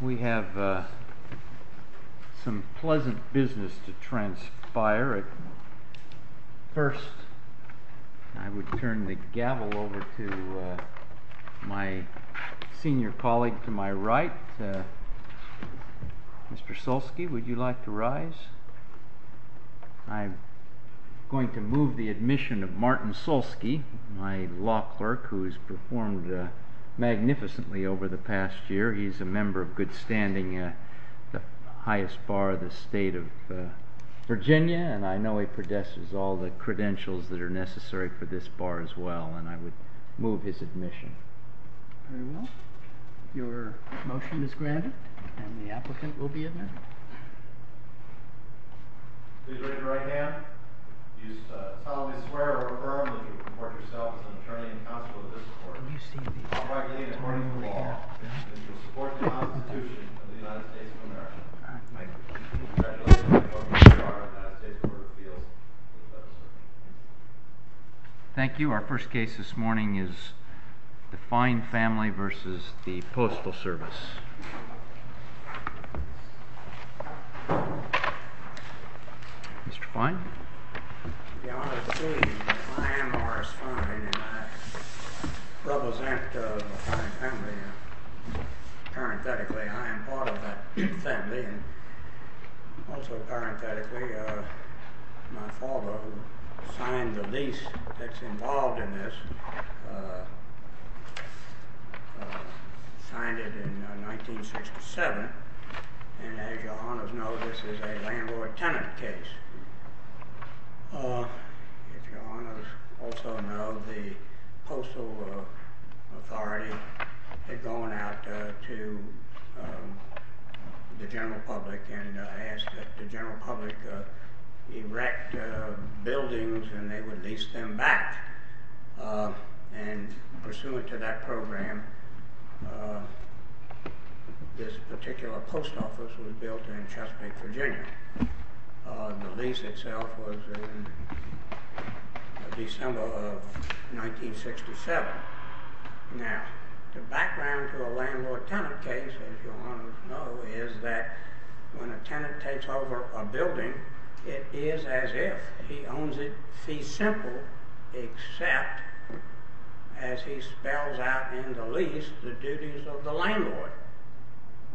We have some pleasant business to transpire. First, I would turn the gavel over to my senior colleague to my right. Mr. Solsky, would you like to rise? I am going to move the admission of Martin Solsky, my law clerk, who has performed magnificently over the past year. He is a member of good standing, the highest bar of the state of Virginia, and I know he possesses all the credentials that are necessary for this bar as well, and I would move his admission. Very well. Your motion is granted, and the applicant will be admitted. Thank you. Our first case this morning is the Fine Family v. the Postal Service. I, Morris Fine, represent the Fine Family. Parenthetically, I am part of that family. And also, parenthetically, my father, who signed the lease that's involved in this, signed it in 1967, and as your honors know, this is a landlord-tenant case. If your honors also know, the Postal Authority had gone out to the general public and asked that the general public erect buildings and they would lease them back. And pursuant to that program, this particular post office was built in Chesapeake, Virginia. The lease itself was in December of 1967. Now, the background to a landlord-tenant case, as your honors know, is that when a tenant takes over a building, it is as if he owns it fee simple, except as he spells out in the lease the duties of the landlord.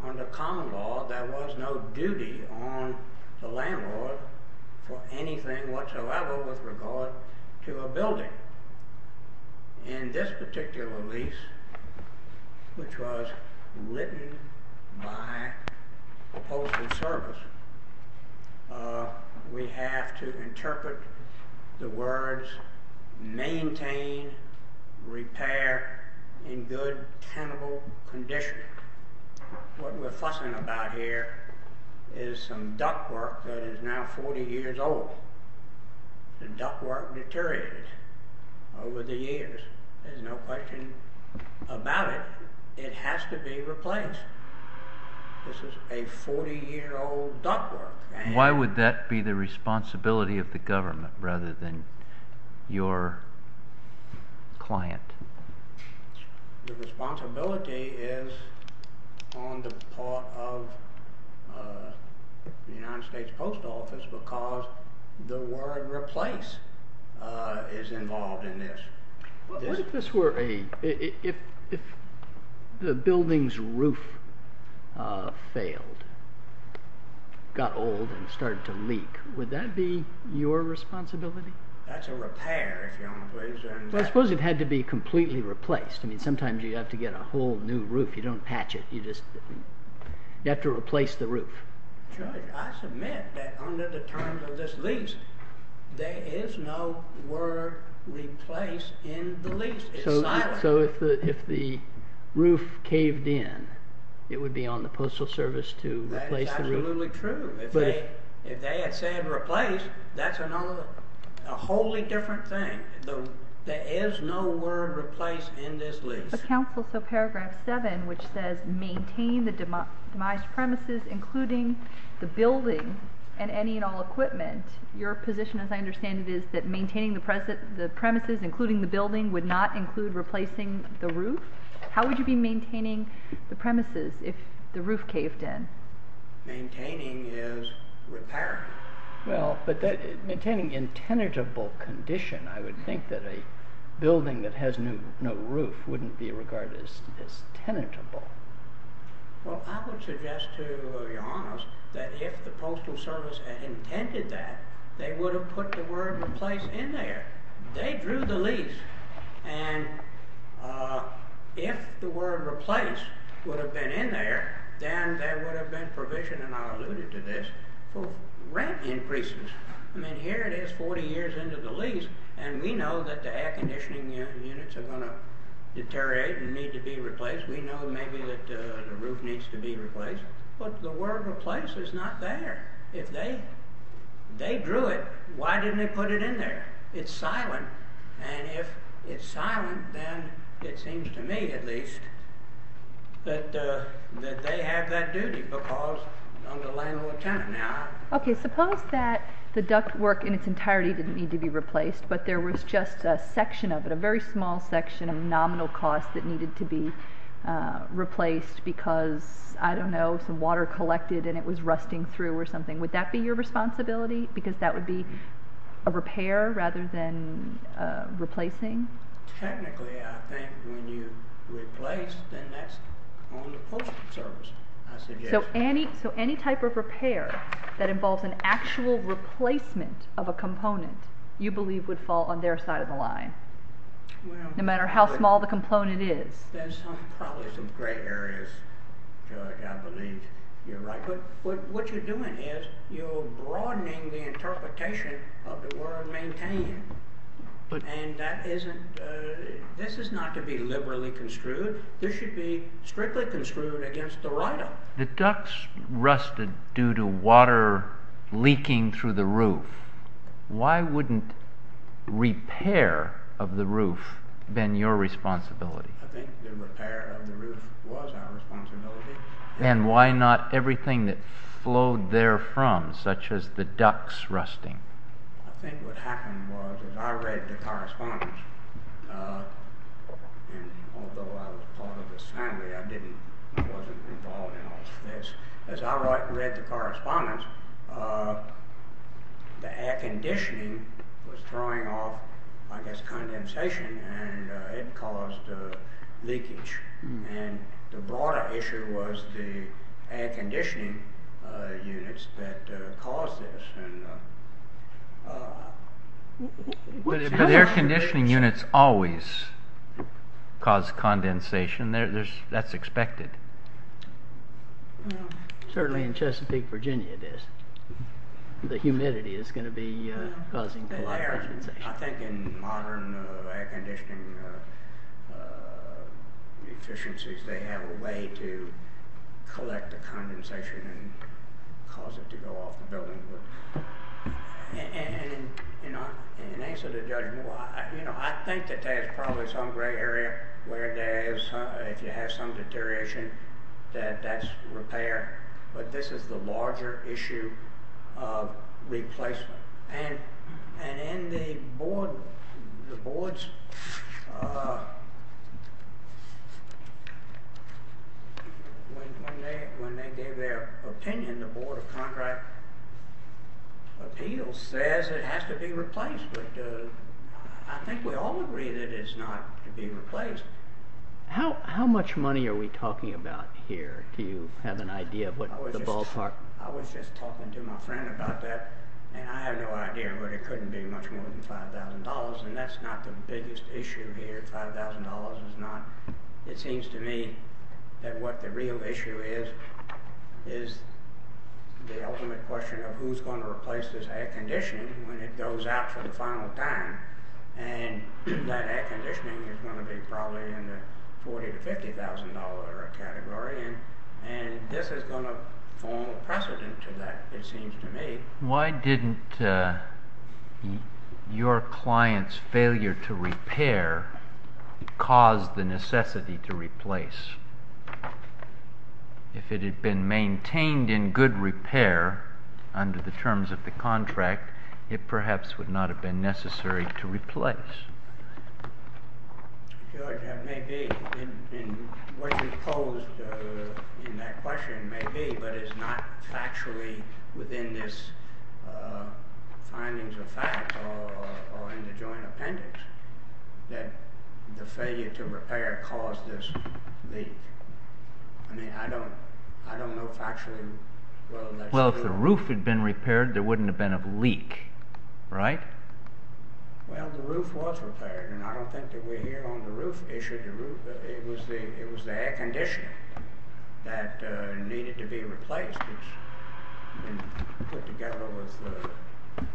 However, under common law, there was no duty on the landlord for anything whatsoever with regard to a building. In this particular lease, which was written by the Postal Service, we have to interpret the words, maintain, repair, in good tenable condition. What we're fussing about here is some ductwork that is now 40 years old. The ductwork deteriorated over the years. There's no question about it. It has to be replaced. This is a 40-year-old ductwork. Why would that be the responsibility of the government rather than your client? The responsibility is on the part of the United States Postal Service because the word replace is involved in this. If the building's roof failed, got old, and started to leak, would that be your responsibility? That's a repair, if you will. I suppose it had to be completely replaced. Sometimes you have to get a whole new roof. You don't patch it. You have to replace the roof. I submit that under the terms of this lease, there is no word replace in the lease. It's silent. So if the roof caved in, it would be on the Postal Service to replace the roof? Absolutely true. If they had said replace, that's a wholly different thing. There is no word replace in this lease. But counsel, so paragraph 7, which says maintain the demised premises, including the building, and any and all equipment, your position, as I understand it, is that maintaining the premises, including the building, would not include replacing the roof? How would you be maintaining the premises if the roof caved in? Maintaining is repairing. Well, but maintaining in tenable condition, I would think that a building that has no roof wouldn't be regarded as tenable. Well, I would suggest to your honors that if the Postal Service had intended that, they would have put the word replace in there. They drew the lease, and if the word replace would have been in there, then there would have been provision, and I alluded to this, for rent increases. I mean, here it is, 40 years into the lease, and we know that the air conditioning units are going to deteriorate and need to be replaced. We know, maybe, that the roof needs to be replaced, but the word replace is not there. If they drew it, why didn't they put it in there? It's silent. And if it's silent, then it seems to me, at least, that they have that duty because I'm the landlord-tenant now. Okay, suppose that the duct work in its entirety didn't need to be replaced, but there was just a section of it, a very small section of nominal cost that needed to be replaced because, I don't know, some water collected and it was rusting through or something. Would that be your responsibility? Because that would be a repair rather than replacing? Technically, I think when you replace, then that's on the Postal Service, I suggest. So any type of repair that involves an actual replacement of a component, you believe, would fall on their side of the line, no matter how small the component is? There's probably some gray areas. I believe you're right. But what you're doing is you're broadening the interpretation of the word maintain. This is not to be liberally construed. This should be strictly construed against the right of it. The ducts rusted due to water leaking through the roof. Why wouldn't repair of the roof been your responsibility? I think the repair of the roof was our responsibility. And why not everything that flowed therefrom, such as the ducts rusting? I think what happened was, as I read the correspondence, and although I was part of this family, I wasn't involved in all of this. As I read the correspondence, the air conditioning was throwing off, I guess, condensation and it caused leakage. And the broader issue was the air conditioning units that caused this. But air conditioning units always cause condensation. That's expected. Certainly in Chesapeake, Virginia, the humidity is going to be causing condensation. I think in modern air conditioning efficiencies, they have a way to collect the condensation and cause it to go off the building. And in answer to Judge Moore, I think that there is probably some gray area where if you have some deterioration, that's repair. But this is the larger issue of replacement. And when they gave their opinion, the Board of Contract Appeals says it has to be replaced. But I think we all agree that it's not to be replaced. How much money are we talking about here? Do you have an idea of the ballpark? I was just talking to my friend about that, and I have no idea, but it couldn't be much more than $5,000. And that's not the biggest issue here. $5,000 is not. It seems to me that what the real issue is, is the ultimate question of who's going to replace this air conditioning when it goes out for the final time. And that air conditioning is going to be probably in the $40,000 to $50,000 category. And this is going to form a precedent to that, it seems to me. Why didn't your client's failure to repair cause the necessity to replace? If it had been maintained in good repair under the terms of the contract, it perhaps would not have been necessary to replace. It may be. What you posed in that question may be, but it's not factually within this findings of fact or in the joint appendix that the failure to repair caused this leak. I mean, I don't know factually whether that's true or not. Well, if the roof had been repaired, there wouldn't have been a leak, right? Well, the roof was repaired, and I don't think that we're here on the roof issue. It was the air conditioning that needed to be replaced. It was put together with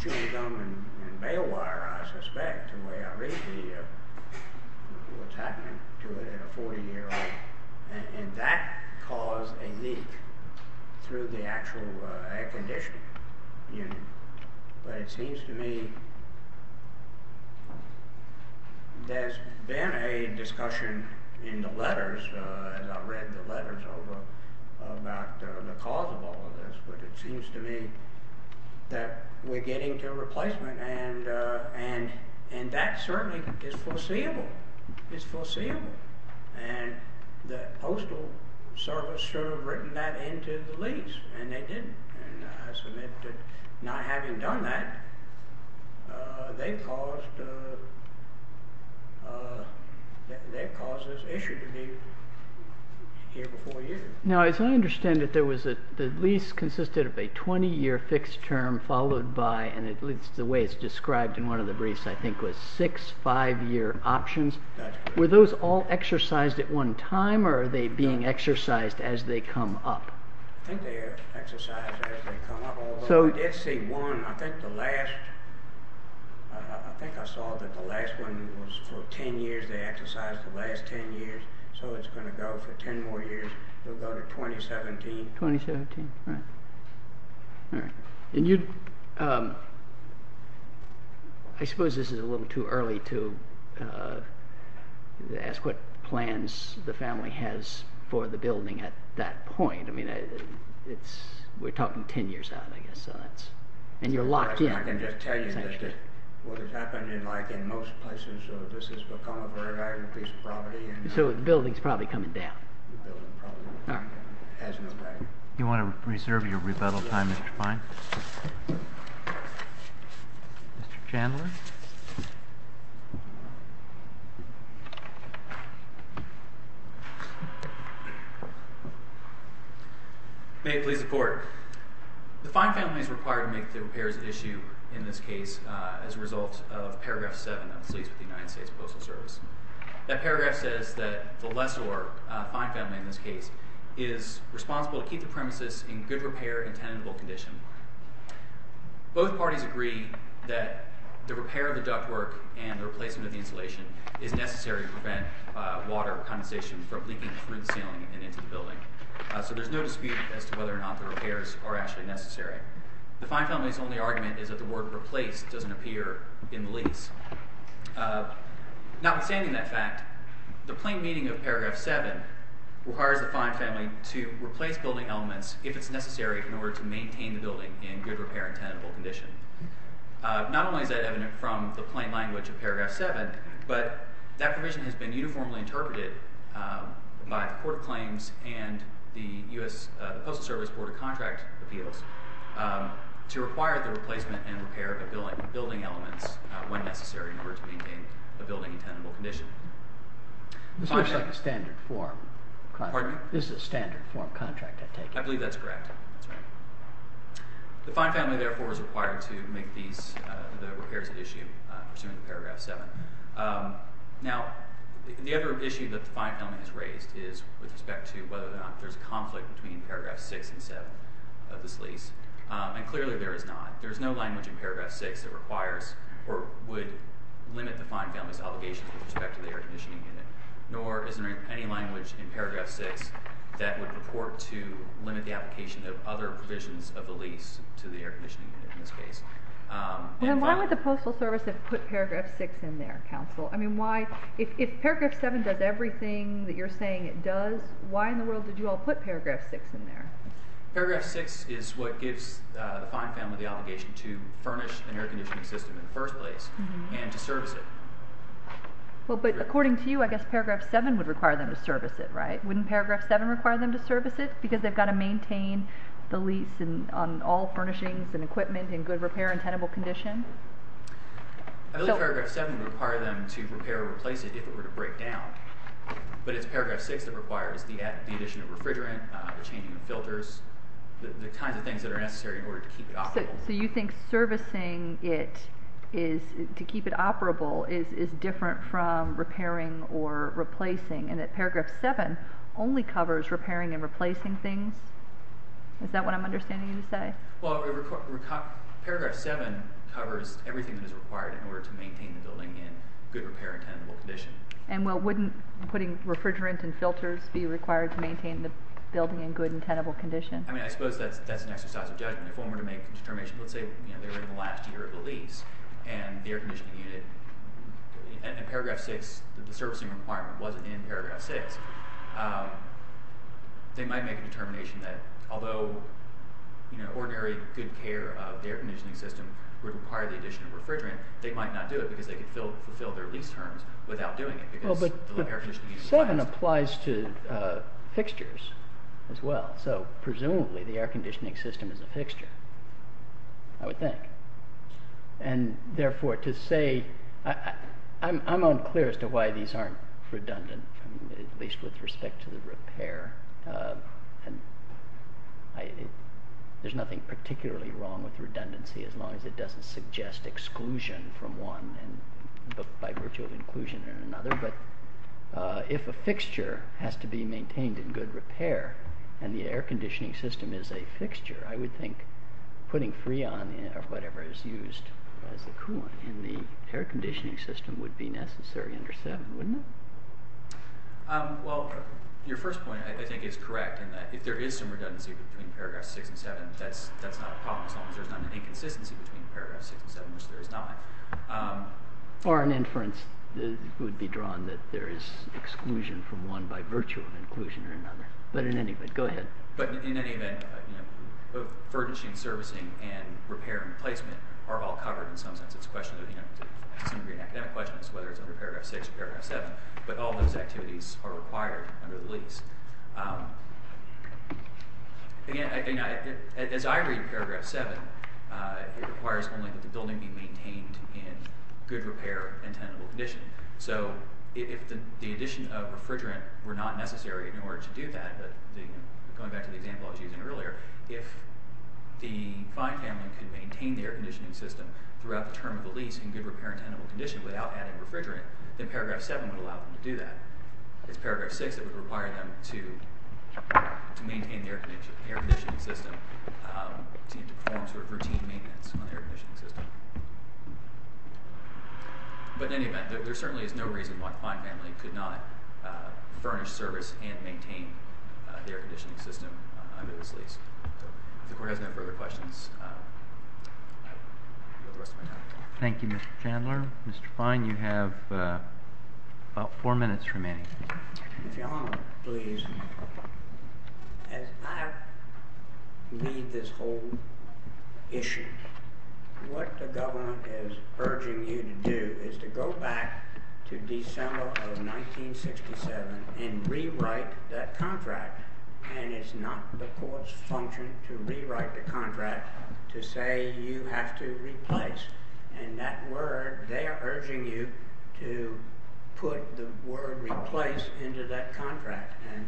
chewing gum and bail wire, I suspect, the way I read what's happening to a 40-year-old. And that caused a leak through the actual air conditioning unit. But it seems to me there's been a discussion in the letters, as I read the letters over, about the cause of all of this. But it seems to me that we're getting to a replacement, and that certainly is foreseeable. It's foreseeable. And the Postal Service should have written that into the lease, and they didn't. And I submit that not having done that, they've caused this issue to be here before you. Now, as I understand it, the lease consisted of a 20-year fixed term followed by, and the way it's described in one of the briefs, I think, was six 5-year options. Were those all exercised at one time, or are they being exercised as they come up? I think they're exercised as they come up, although I did see one. I think I saw that the last one was for 10 years. They exercised the last 10 years, so it's going to go for 10 more years. We'll go to 2017. 2017, all right. I suppose this is a little too early to ask what plans the family has for the building at that point. I mean, we're talking 10 years out, I guess, and you're locked in. I can just tell you that what has happened in most places, this has become a very valuable piece of property. So the building's probably coming down. The building probably has no value. Do you want to reserve your rebuttal time, Mr. Fine? Mr. Chandler? May it please the Court. The Fine Family is required to make the repairs at issue in this case as a result of paragraph 7 of the Lease with the United States Postal Service. That paragraph says that the lessor, Fine Family in this case, is responsible to keep the premises in good repair and tenable condition. Both parties agree that the repair of the ductwork and the replacement of the insulation is necessary to prevent water condensation from leaking through the ceiling and into the building. So there's no dispute as to whether or not the repairs are actually necessary. The Fine Family's only argument is that the word replace doesn't appear in the lease. Notwithstanding that fact, the plain meaning of paragraph 7 requires the Fine Family to replace building elements if it's necessary in order to maintain the building in good repair and tenable condition. Not only is that evident from the plain language of paragraph 7, but that provision has been uniformly interpreted by the Court of Claims and the Postal Service Board of Contract Appeals to require the replacement and repair of building elements when necessary in order to maintain a building in tenable condition. This looks like a standard form contract. Pardon me? This is a standard form contract, I take it? I believe that's correct. That's right. The Fine Family, therefore, is required to make the repairs an issue pursuant to paragraph 7. Now, the other issue that the Fine Family has raised is with respect to whether or not there's a conflict between paragraph 6 and 7 of this lease. And clearly there is not. There is no language in paragraph 6 that requires or would limit the Fine Family's obligations with respect to the air conditioning unit. Nor is there any language in paragraph 6 that would purport to limit the application of other provisions of the lease to the air conditioning unit in this case. Then why would the Postal Service have put paragraph 6 in there, counsel? I mean, why—if paragraph 7 does everything that you're saying it does, why in the world did you all put paragraph 6 in there? Paragraph 6 is what gives the Fine Family the obligation to furnish an air conditioning system in the first place and to service it. Well, but according to you, I guess paragraph 7 would require them to service it, right? Wouldn't paragraph 7 require them to service it because they've got to maintain the lease on all furnishings and equipment in good repair and tenable condition? I believe paragraph 7 would require them to repair or replace it if it were to break down. But it's paragraph 6 that requires the addition of refrigerant, the changing of filters, the kinds of things that are necessary in order to keep it operable. So you think servicing it to keep it operable is different from repairing or replacing, and that paragraph 7 only covers repairing and replacing things? Is that what I'm understanding you to say? Well, paragraph 7 covers everything that is required in order to maintain the building in good repair and tenable condition. And wouldn't putting refrigerant and filters be required to maintain the building in good and tenable condition? I mean, I suppose that's an exercise of judgment. If one were to make a determination, let's say they were in the last year of the lease and the air conditioning unit, and in paragraph 6 the servicing requirement wasn't in paragraph 6, they might make a determination that although ordinary good care of the air conditioning system would require the addition of refrigerant, they might not do it because they could fulfill their lease terms without doing it. But 7 applies to fixtures as well. So presumably the air conditioning system is a fixture, I would think. And therefore to say, I'm unclear as to why these aren't redundant, at least with respect to the repair. There's nothing particularly wrong with redundancy as long as it doesn't suggest exclusion from one by virtue of inclusion in another. But if a fixture has to be maintained in good repair and the air conditioning system is a fixture, I would think putting Freon or whatever is used as a coolant in the air conditioning system would be necessary under 7, wouldn't it? Well, your first point I think is correct in that if there is some redundancy between paragraphs 6 and 7, that's not a problem as long as there's not an inconsistency between paragraphs 6 and 7, which there is not. Or an inference would be drawn that there is exclusion from one by virtue of inclusion in another. But in any event, go ahead. But in any event, both furnishing, servicing, and repair and replacement are all covered in some sense. Some of your academic questions, whether it's under paragraph 6 or paragraph 7, but all those activities are required under the lease. Again, as I read paragraph 7, it requires only that the building be maintained in good repair and tenable condition. So if the addition of refrigerant were not necessary in order to do that, going back to the example I was using earlier, if the Fein family could maintain the air conditioning system throughout the term of the lease in good repair and tenable condition without adding refrigerant, then paragraph 7 would allow them to do that. If it's paragraph 6, it would require them to maintain the air conditioning system to perform sort of routine maintenance on the air conditioning system. But in any event, there certainly is no reason why the Fein family could not furnish, service, and maintain the air conditioning system under this lease. If the court has no further questions, I will go the rest of my time. Thank you, Mr. Chandler. Mr. Fein, you have about four minutes remaining. If you'll allow me, please. As I read this whole issue, what the government is urging you to do is to go back to December of 1967 and rewrite that contract. And it's not the court's function to rewrite the contract to say you have to replace. And that word, they are urging you to put the word replace into that contract. And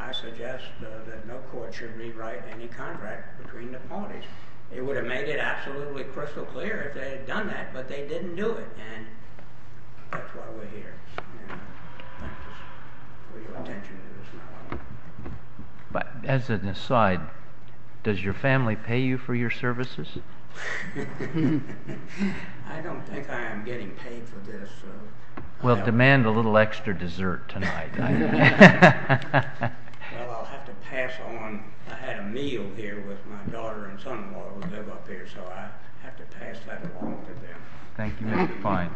I suggest that no court should rewrite any contract between the parties. It would have made it absolutely crystal clear if they had done that, but they didn't do it. And that's why we're here. Thank you for your attention to this matter. As an aside, does your family pay you for your services? I don't think I am getting paid for this. Well, demand a little extra dessert tonight. Well, I'll have to pass on. I had a meal here with my daughter and son-in-law who live up here, so I'll have to pass that along to them. Thank you, Mr. Fein.